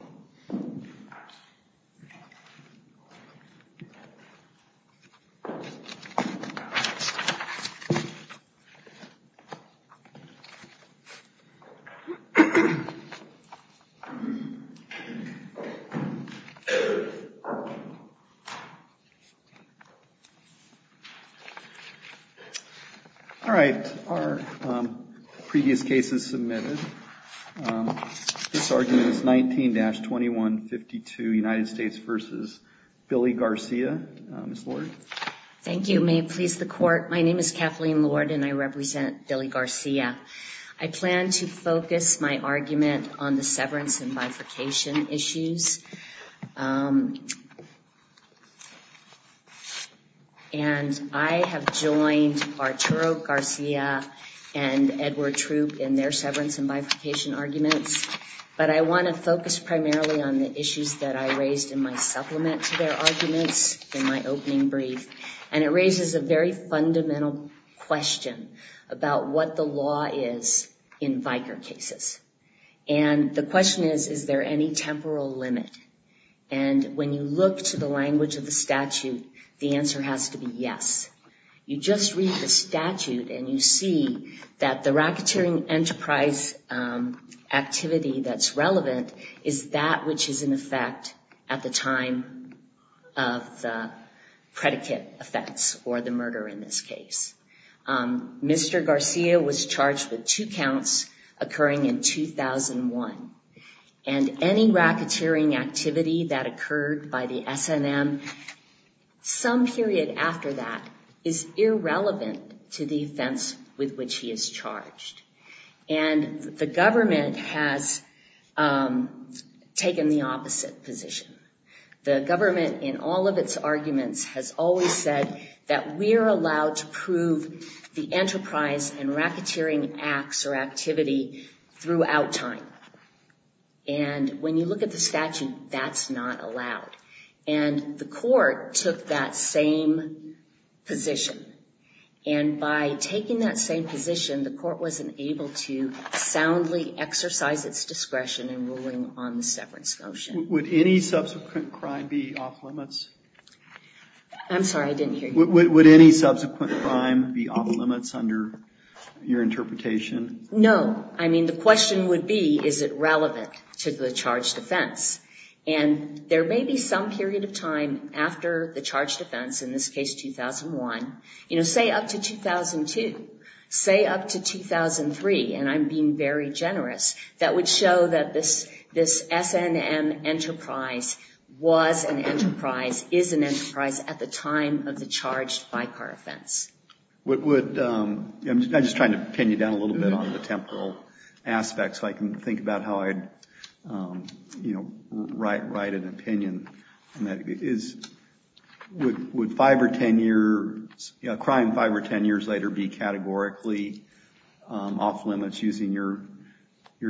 All right, our previous case is submitted. This argument is 19-2152 United States v. Billy Garcia. Ms. Lord. Thank you. May it please the court. My name is Kathleen Lord and I represent Billy Garcia. I plan to focus my argument on the severance and bifurcation issues. And I have joined Arturo Garcia and Edward Troop in their severance and bifurcation arguments. But I want to focus primarily on the issues that I raised in my supplement to their arguments in my opening brief. And it raises a very fundamental question about what the law is in VIKR cases. And the question is, is there any temporal limit? And when you look to the language of the statute, the answer has to be yes. You just read the statute and you see that the racketeering enterprise activity that's relevant is that which is in effect at the time of the predicate effects or the murder in this case. Mr. Garcia was charged with two counts occurring in 2001. And any racketeering activity that occurred by the SNM some period after that is irrelevant to the offense with which he is charged. And the government has taken the opposite position. The government in all of its arguments has always said that we're allowed to prove the enterprise and racketeering acts or activity throughout time. And when you look at the statute, that's not allowed. And the court took that same position. And by taking that same position, the court wasn't able to soundly exercise its discretion in ruling on the severance motion. Would any subsequent crime be off limits? I'm sorry, I didn't hear you. Would any subsequent crime be off limits under your interpretation? No. I mean, the question would be, is it relevant to the charged offense? And there may be some period of time after the charged offense, in this case 2001, you know, say up to 2002, say up to 2003, and I'm being very generous, that would show that this SNM enterprise was an enterprise, is an enterprise at the time of the charged by-car offense. I'm just trying to pin you down a little bit on the temporal aspects so I can think about how I'd, you know, write an opinion. Would 5 or 10 years, crime 5 or 10 years later be categorically off limits using your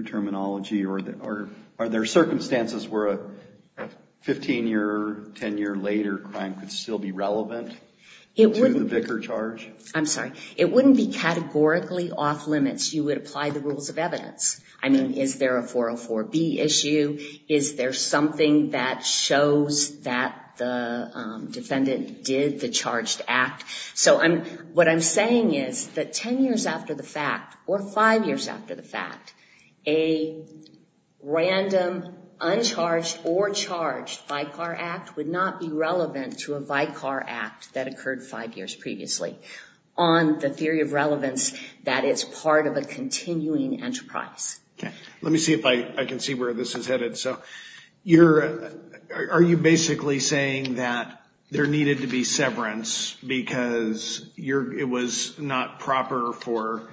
terminology? Or are there circumstances where a 15 year, 10 year later crime could still be relevant to the Vicar charge? I'm sorry. It wouldn't be categorically off limits. You would apply the rules of evidence. I mean, is there a 404B issue? Is there something that shows that the defendant did the charged act? So I'm, what I'm saying is that 10 years after the fact, or 5 years after the fact, a random uncharged or charged by-car act would not be relevant to a by-car act that occurred 5 years previously. On the theory of relevance, that is part of a continuing enterprise. Okay. Let me see if I can see where this is headed. So you're, are you basically saying that there needed to be severance because you're, it was not proper for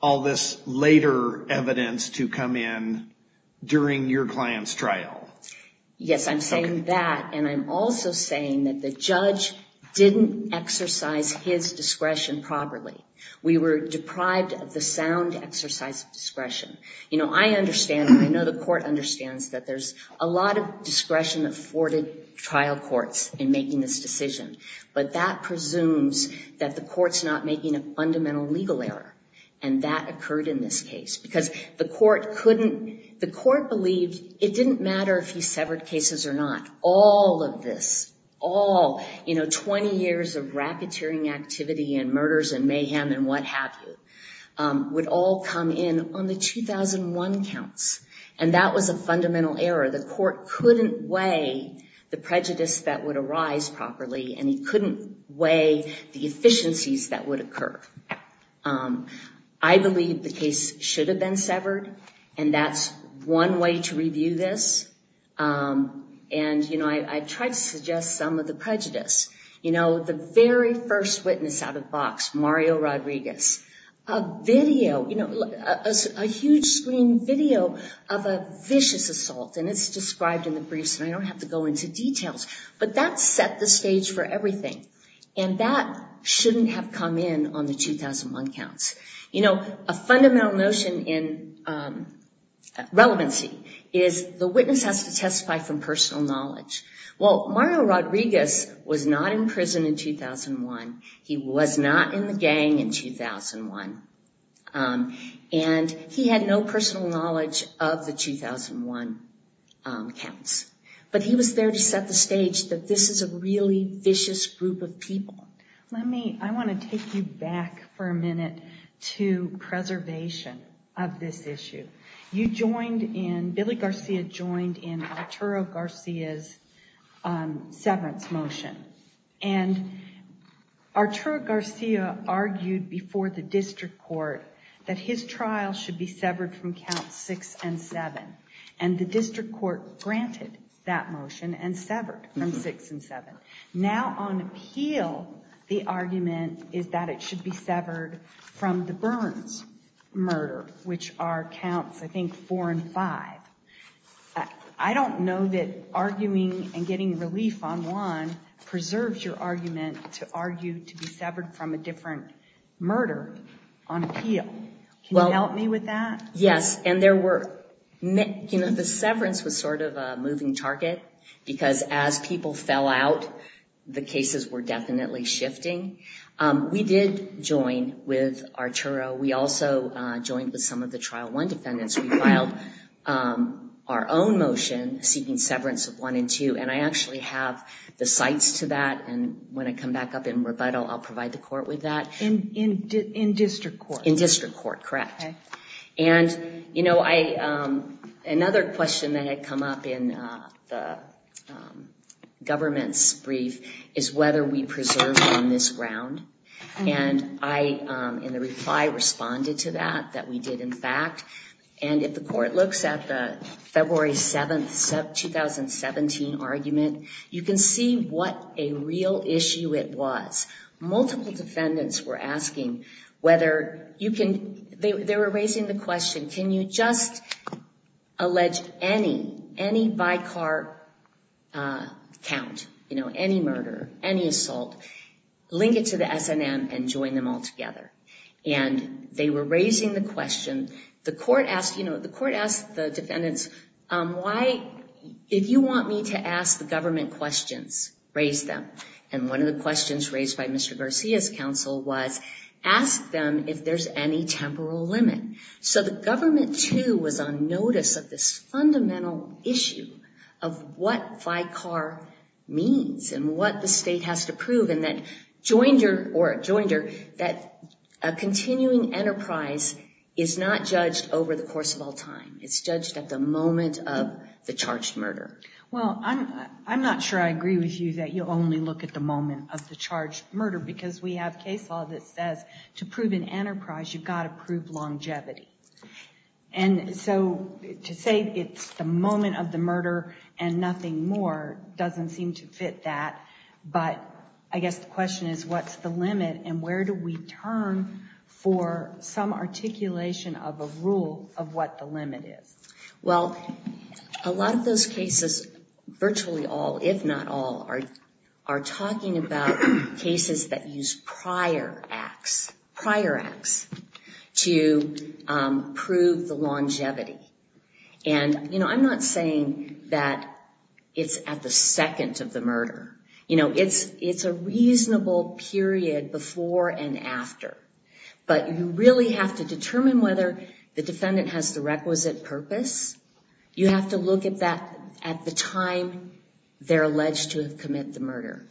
all this later evidence to come in during your client's trial? Yes, I'm saying that. And I'm also saying that the judge didn't exercise his discretion properly. We were deprived of the sound exercise of discretion. You know, I understand and I know the court understands that there's a lot of discretion afforded trial courts in making this decision. But that presumes that the court's not making a fundamental legal error. And that occurred in this case. Because the court couldn't, the court believed it didn't matter if he severed cases or not. All of this, all, you know, 20 years of racketeering activity and murders and mayhem and what have you, would all come in on the 2001 counts. And that was a fundamental error. The court couldn't weigh the prejudice that would arise properly and he couldn't weigh the efficiencies that would occur. I believe the case should have been severed. And that's one way to review this. And, you know, I tried to suggest some of the prejudice. You know, the very first witness out of box, Mario Rodriguez, a video, you know, a huge screen video of a vicious assault. And it's described in the briefs and I don't have to go into details. But that set the stage for everything. And that shouldn't have come in on the 2001 counts. You know, a fundamental notion in relevancy is the witness has to testify from personal knowledge. Well, Mario Rodriguez was not in prison in 2001. He was not in the gang in 2001. And he had no personal knowledge of the 2001 counts. But he was there to set the stage that this is a really vicious group of people. Let me, I want to take you back for a minute to preservation of this issue. You joined in, Billy Garcia joined in Arturo Garcia's severance motion. And Arturo Garcia argued before the district court that his trial should be severed from counts six and seven. And the district court granted that motion and severed from six and seven. Now on appeal, the argument is that it should be severed from the Burns murder, which are counts, I think, four and five. I don't know that arguing and getting relief on one preserves your argument to argue to be severed from a different murder on appeal. Can you help me with that? Yes, and there were, you know, the severance was sort of a moving target. Because as people fell out, the cases were definitely shifting. We did join with Arturo. We also joined with some of the trial one defendants. We filed our own motion seeking severance of one and two. And I actually have the sites to that. And when I come back up in rebuttal, I'll provide the court with that. In district court? In district court, correct. And, you know, another question that had come up in the government's brief is whether we preserve on this ground. And I, in the reply, responded to that, that we did, in fact. And if the court looks at the February 7, 2017 argument, you can see what a real issue it was. Multiple defendants were asking whether you can, they were raising the question, can you just allege any, any by car count, you know, any murder, any assault, link it to the SNM and join them all together. And they were raising the question. The court asked, you know, the court asked the defendants, why, if you want me to ask the government questions, raise them. And one of the questions raised by Mr. Garcia's counsel was, ask them if there's any temporal limit. So the government, too, was on notice of this fundamental issue of what by car means and what the state has to prove. And that Joinder, or Joinder, that a continuing enterprise is not judged over the course of all time. It's judged at the moment of the charged murder. Well, I'm not sure I agree with you that you only look at the moment of the charged murder, because we have case law that says to prove an enterprise, you've got to prove longevity. And so to say it's the moment of the murder and nothing more doesn't seem to fit that. But I guess the question is, what's the limit and where do we turn for some articulation of a rule of what the limit is? Well, a lot of those cases, virtually all, if not all, are talking about cases that use prior acts, prior acts, to prove the longevity. And, you know, I'm not saying that it's at the second of the murder. You know, it's a reasonable period before and after. But you really have to determine whether the defendant has the requisite purpose. You have to look at that at the time they're alleged to have committed the murder.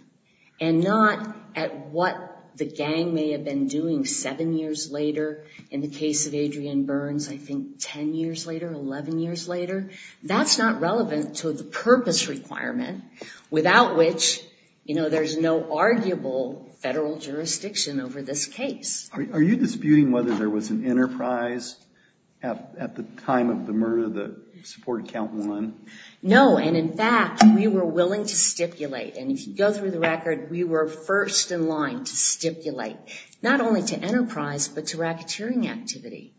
And not at what the gang may have been doing seven years later. In the case of Adrian Burns, I think 10 years later, 11 years later. That's not relevant to the purpose requirement, without which, you know, there's no arguable federal jurisdiction over this case. Are you disputing whether there was an enterprise at the time of the murder that supported count one? No, and in fact, we were willing to stipulate. And if you go through the record, we were first in line to stipulate, not only to enterprise, but to racketeering activity.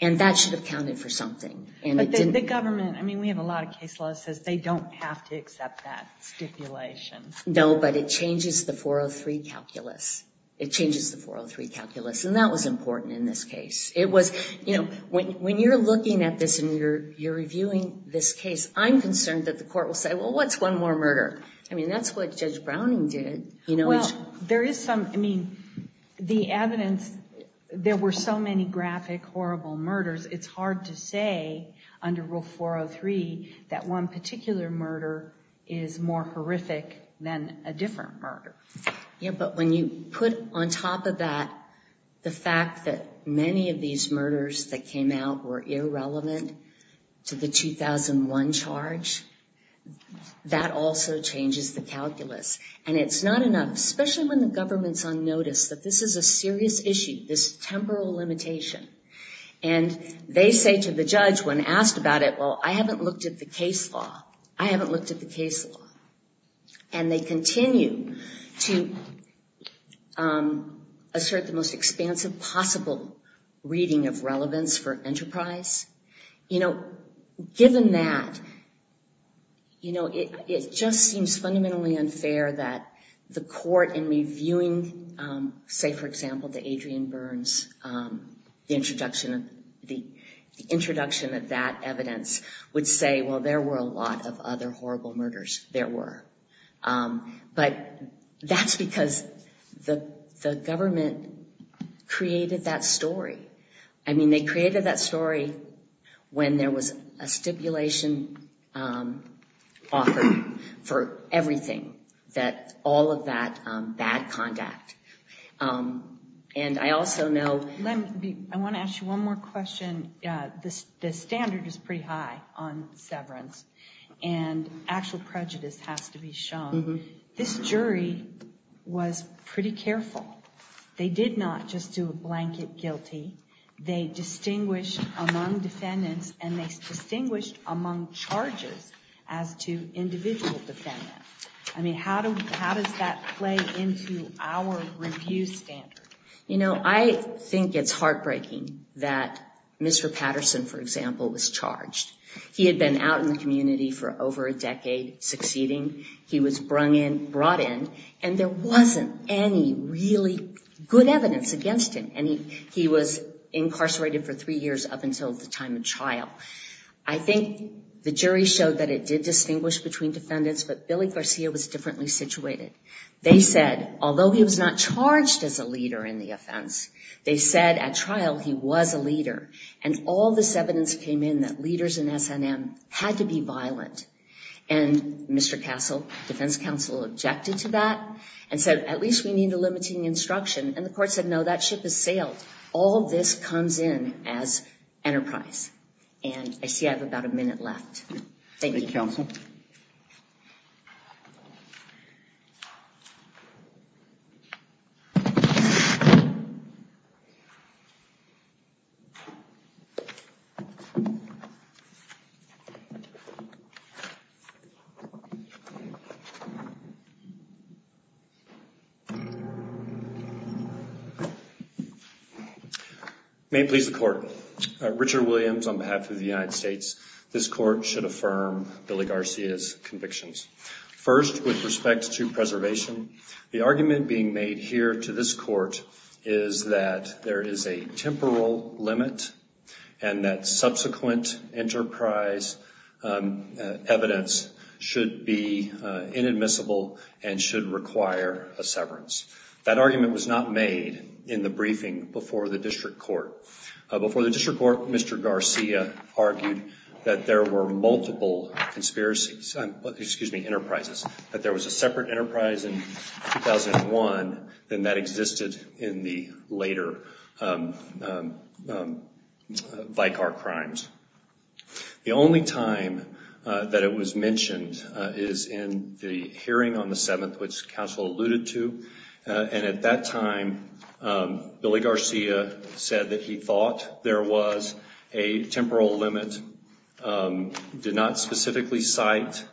And that should have counted for something. But the government, I mean, we have a lot of case law that says they don't have to accept that stipulation. No, but it changes the 403 calculus. It changes the 403 calculus. And that was important in this case. It was, you know, when you're looking at this and you're reviewing this case, I'm concerned that the court will say, well, what's one more murder? I mean, that's what Judge Browning did. Well, there is some, I mean, the evidence, there were so many graphic, horrible murders, it's hard to say under Rule 403 that one particular murder is more horrific than a different murder. Yeah, but when you put on top of that the fact that many of these murders that came out were irrelevant to the 2001 charge, that also changes the calculus. And it's not enough, especially when the government's on notice that this is a serious issue, this temporal limitation. And they say to the judge when asked about it, well, I haven't looked at the case law. I haven't looked at the case law. And they continue to assert the most expansive possible reading of relevance for enterprise. You know, given that, you know, it just seems fundamentally unfair that the court in reviewing, say, for example, the Adrian Burns, the introduction of that evidence would say, well, there were a lot of other horrible murders there were. But that's because the government created that story. I mean, they created that story when there was a stipulation offered for everything, that all of that bad conduct. And I also know... I want to ask you one more question. The standard is pretty high on severance. And actual prejudice has to be shown. This jury was pretty careful. They did not just do a blanket guilty. They distinguished among defendants and they distinguished among charges as to individual defendants. I mean, how does that play into our review standard? You know, I think it's heartbreaking that Mr. Patterson, for example, was charged. He had been out in the community for over a decade succeeding. He was brought in and there wasn't any really good evidence against him. And he was incarcerated for three years up until the time of trial. I think the jury showed that it did distinguish between defendants, but Billy Garcia was differently situated. They said, although he was not charged as a leader in the offense, they said at trial he was a leader. And all this evidence came in that leaders in SNM had to be violent. And Mr. Castle, defense counsel, objected to that and said, at least we need a limiting instruction. And the court said, no, that ship has sailed. All of this comes in as enterprise. And I see I have about a minute left. Thank you. Thank you, counsel. May it please the court. Richard Williams on behalf of the United States. This court should affirm Billy Garcia's convictions. First, with respect to preservation, the argument being made here to this court is that there is a temporal limit and that subsequent enterprise evidence should be inadmissible and should require a severance. That argument was not made in the briefing before the district court. Before the district court, Mr. Garcia argued that there were multiple conspiracies, excuse me, enterprises, that there was a separate enterprise in 2001 than that existed in the later Vicar crimes. The only time that it was mentioned is in the hearing on the 7th, which counsel alluded to. And at that time, Billy Garcia said that he thought there was a temporal limit, did not specifically cite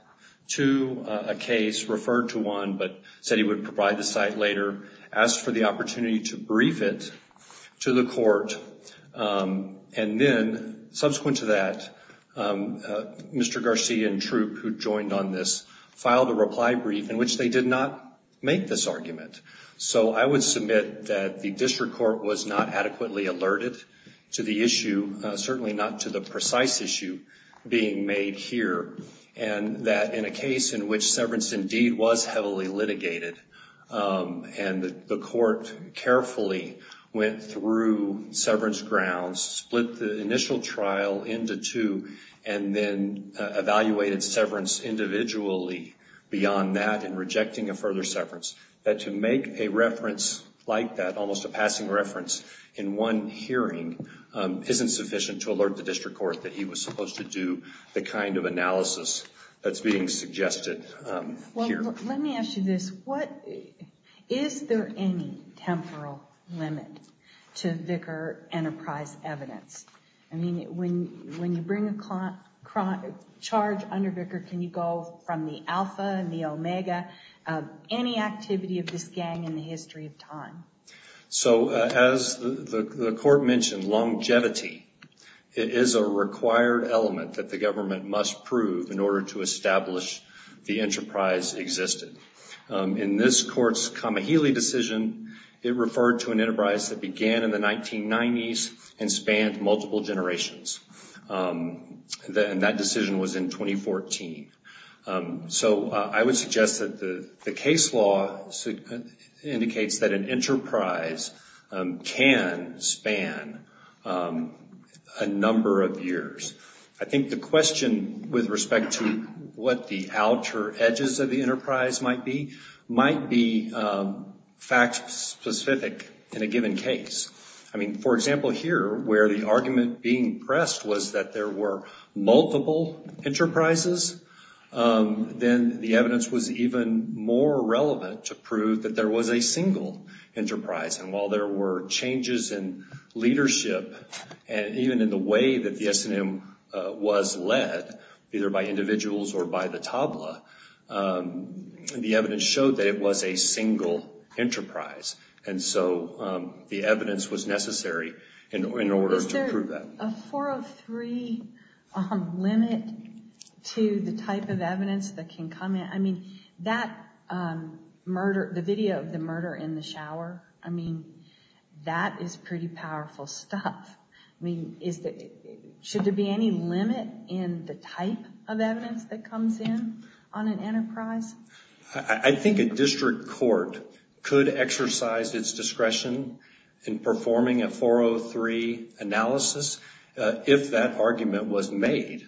to a case, referred to one, but said he would provide the site later, asked for the opportunity to brief it to the court. And then, subsequent to that, Mr. Garcia and Troop, who joined on this, filed a reply brief in which they did not make this argument. So I would submit that the district court was not adequately alerted to the issue, certainly not to the precise issue being made here, and that in a case in which severance indeed was heavily litigated and the court carefully went through severance grounds, split the initial trial into two, and then evaluated severance individually beyond that and rejecting a further severance, that to make a reference like that, almost a passing reference in one hearing, isn't sufficient to alert the district court that he was supposed to do the kind of analysis that's being suggested here. Let me ask you this. Is there any temporal limit to Vicar enterprise evidence? I mean, when you bring a charge under Vicar, can you go from the alpha and the omega, any activity of this gang in the history of time? So, as the court mentioned, longevity is a required element that the government must prove in order to establish the enterprise existed. In this court's Kamihili decision, it referred to an enterprise that began in the 1990s and spanned multiple generations, and that decision was in 2014. So I would suggest that the case law indicates that an enterprise can span a number of years. I think the question with respect to what the outer edges of the enterprise might be, might be fact-specific in a given case. I mean, for example, here, where the argument being pressed was that there were multiple enterprises, then the evidence was even more relevant to prove that there was a single enterprise. And while there were changes in leadership, even in the way that the S&M was led, either by individuals or by the tabla, the evidence showed that it was a single enterprise. And so the evidence was necessary in order to prove that. Is there a 403 limit to the type of evidence that can come in? I mean, that murder, the video of the murder in the shower, I mean, that is pretty powerful stuff. I mean, should there be any limit in the type of evidence that comes in on an enterprise? I think a district court could exercise its discretion in performing a 403 analysis if that argument was made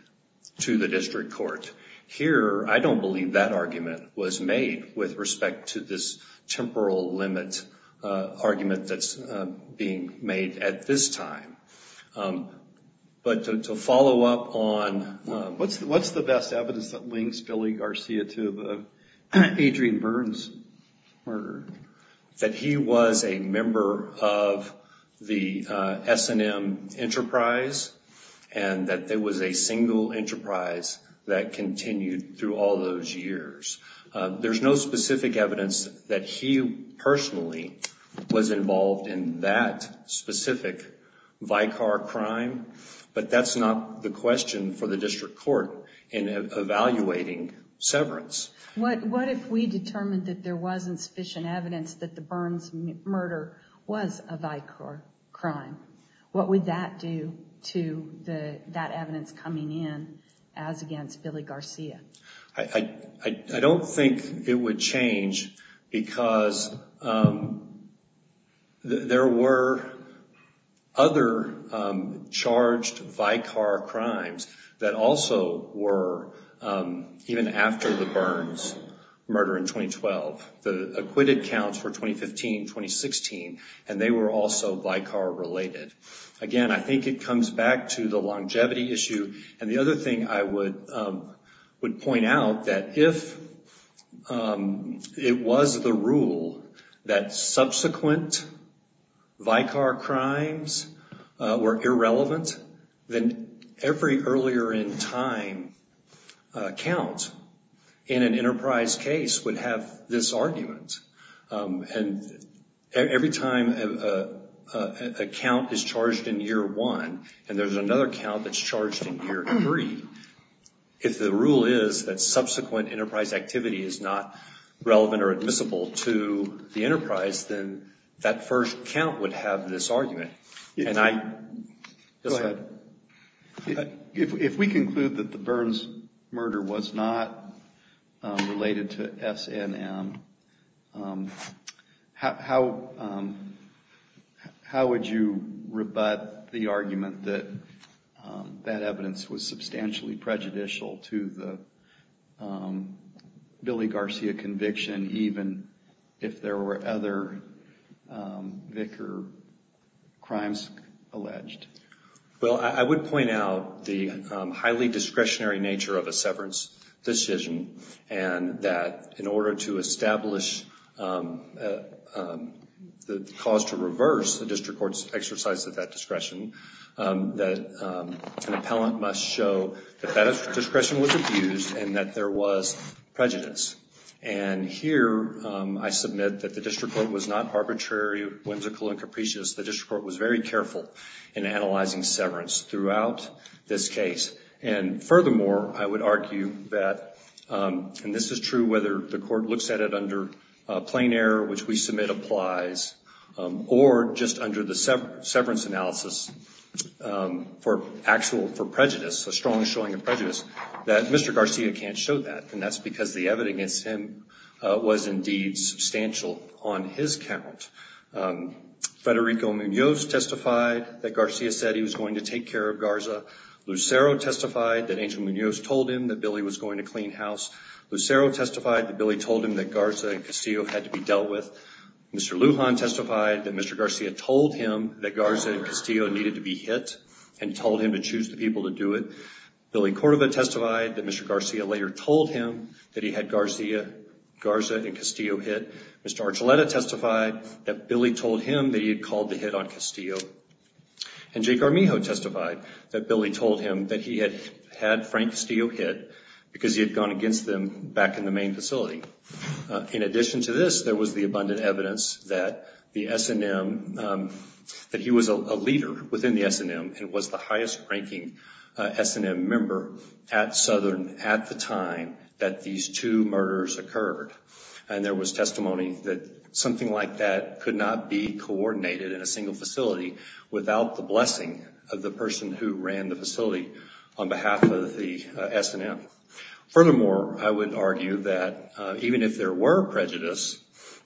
to the district court. Here, I don't believe that argument was made with respect to this temporal limit argument that's being made at this time. But to follow up on what's the best evidence that links Billy Garcia to Adrian Byrne's murder? That he was a member of the S&M enterprise and that there was a single enterprise that continued through all those years. There's no specific evidence that he personally was involved in that specific Vicar crime, but that's not the question for the district court in evaluating severance. What if we determined that there wasn't sufficient evidence that Byrne's murder was a Vicar crime? What would that do to that evidence coming in as against Billy Garcia? I don't think it would change because there were other charged Vicar crimes that also were, even after the Byrne's murder in 2012, the acquitted counts were 2015, 2016, and they were also Vicar related. Again, I think it comes back to the longevity issue. And the other thing I would point out that if it was the rule that subsequent Vicar crimes were irrelevant, then every earlier in time count in an enterprise case would have this argument. And every time a count is charged in year one and there's another count that's charged in year three, if the rule is that subsequent enterprise activity is not relevant or admissible to the enterprise, then that first count would have this argument. Go ahead. If we conclude that the Byrne's murder was not related to SNM, how would you rebut the argument that that evidence was substantially prejudicial to the Billy Garcia conviction, even if there were other Vicar crimes alleged? Well, I would point out the highly discretionary nature of a severance decision and that in order to establish the cause to reverse the district court's exercise of that discretion, that an appellant must show that that discretion was abused and that there was prejudice. And here I submit that the district court was not arbitrary, whimsical and capricious. The district court was very careful in analyzing severance throughout this case. And furthermore, I would argue that, and this is true whether the court looks at it under plain error, which we submit applies, or just under the severance analysis for prejudice, a strong showing of prejudice, that Mr. Garcia can't show that. And that's because the evidence against him was indeed substantial on his count. Federico Munoz testified that Garcia said he was going to take care of Garza. Lucero testified that Angel Munoz told him that Billy was going to clean house. Lucero testified that Billy told him that Garza and Castillo had to be dealt with. Mr. Lujan testified that Mr. Garcia told him that Garza and Castillo needed to be hit and told him to choose the people to do it. Billy Cordova testified that Mr. Garcia later told him that he had Garza and Castillo hit. Mr. Archuleta testified that Billy told him that he had called the hit on Castillo. And Jake Armijo testified that Billy told him that he had had Frank Castillo hit because he had gone against them back in the main facility. In addition to this, there was the abundant evidence that the S&M, that he was a leader within the S&M and was the highest-ranking S&M member at Southern at the time that these two murders occurred. And there was testimony that something like that could not be coordinated in a single facility without the blessing of the person who ran the facility on behalf of the S&M. Furthermore, I would argue that even if there were prejudice,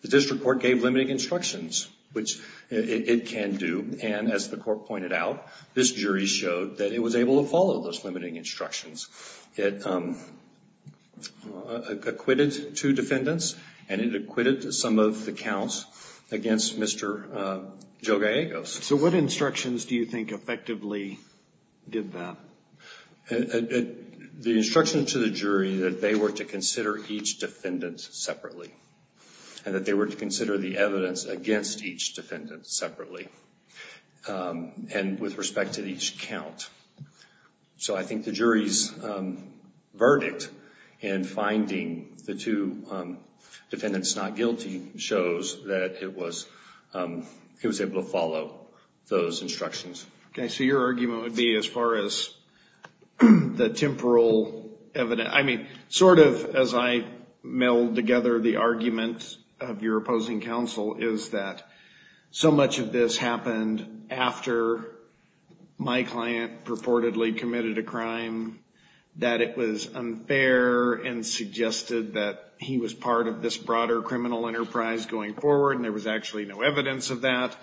the district court gave limiting instructions, which it can do. And as the court pointed out, this jury showed that it was able to follow those limiting instructions. It acquitted two defendants, and it acquitted some of the counts against Mr. Jogallegos. So what instructions do you think effectively did that? The instruction to the jury that they were to consider each defendant separately and that they were to consider the evidence against each defendant separately and with respect to each count. So I think the jury's verdict in finding the two defendants not guilty shows that it was able to follow those instructions. Okay, so your argument would be as far as the temporal evidence. I mean, sort of as I meld together the arguments of your opposing counsel, is that so much of this happened after my client purportedly committed a crime, that it was unfair and suggested that he was part of this broader criminal enterprise going forward, and there was actually no evidence of that,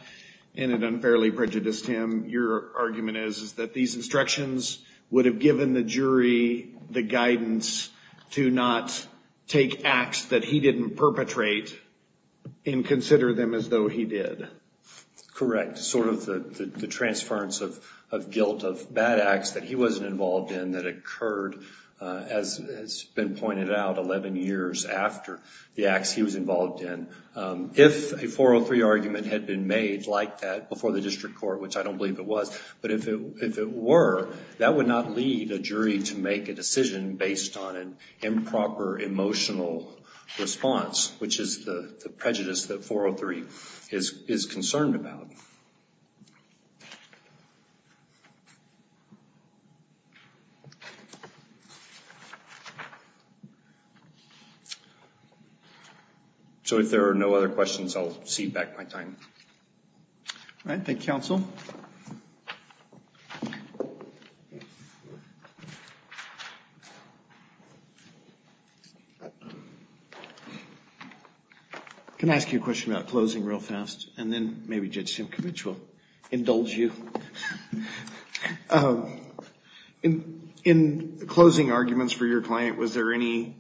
and it unfairly prejudiced him. Your argument is that these instructions would have given the jury the guidance to not take acts that he didn't perpetrate and consider them as though he did. Correct. Sort of the transference of guilt of bad acts that he wasn't involved in that occurred, as has been pointed out, 11 years after the acts he was involved in. If a 403 argument had been made like that before the district court, which I don't believe it was, but if it were, that would not lead a jury to make a decision based on an improper emotional response, which is the prejudice that 403 is concerned about. Thank you. So if there are no other questions, I'll cede back my time. All right. Thank you, counsel. Can I ask you a question about closing real fast, and then maybe Judge Simcox will indulge you? In closing arguments for your client, was there any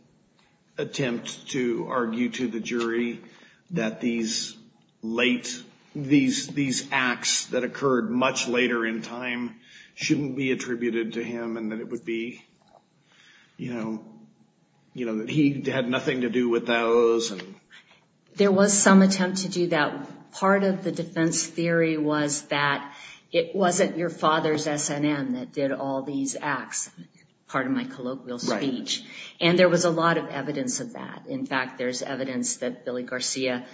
attempt to argue to the jury that these late, these acts that occurred much later in time shouldn't be attributed to him, and that it would be, you know, that he had nothing to do with those? There was some attempt to do that. Part of the defense theory was that it wasn't your father's SNM that did all these acts, part of my colloquial speech, and there was a lot of evidence of that. In fact, there's evidence that Billy Garcia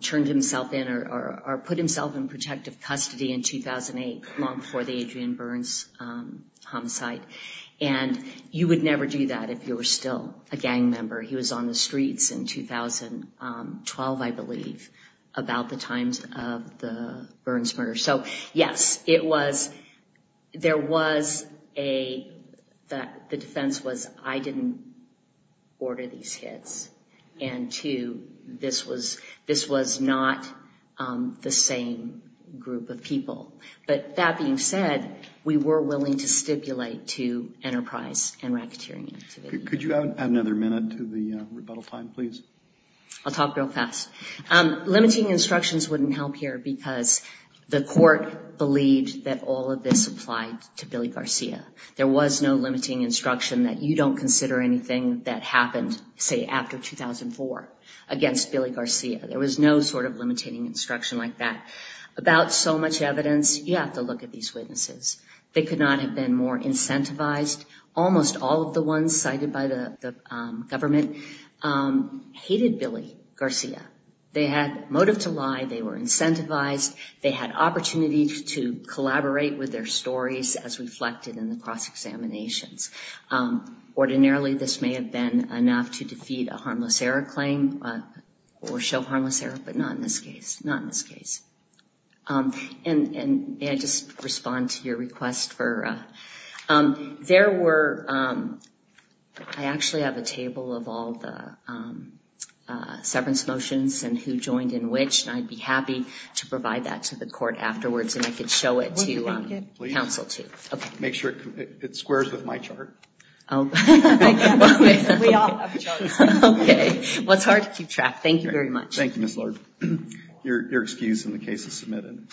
turned himself in or put himself in protective custody in 2008, long before the Adrian Burns homicide, and you would never do that if you were still a gang member. He was on the streets in 2012, I believe, about the times of the Burns murder. So, yes, it was, there was a, the defense was I didn't order these hits, and two, this was not the same group of people. But that being said, we were willing to stipulate to enterprise and racketeering activity. Could you add another minute to the rebuttal time, please? I'll talk real fast. Limiting instructions wouldn't help here because the court believed that all of this applied to Billy Garcia. There was no limiting instruction that you don't consider anything that happened, say, after 2004 against Billy Garcia. There was no sort of limiting instruction like that. About so much evidence, you have to look at these witnesses. They could not have been more incentivized. Almost all of the ones cited by the government hated Billy Garcia. They had motive to lie. They were incentivized. They had opportunities to collaborate with their stories as reflected in the cross-examinations. Ordinarily, this may have been enough to defeat a harmless error claim or show harmless error, but not in this case, not in this case. And may I just respond to your request for... There were... I actually have a table of all the severance motions and who joined in which, and I'd be happy to provide that to the court afterwards, and I could show it to counsel, too. Make sure it squares with my chart. We all have charts. Okay. Well, it's hard to keep track. Thank you very much. Thank you, Ms. Lord. Your excuse in the case is submitted.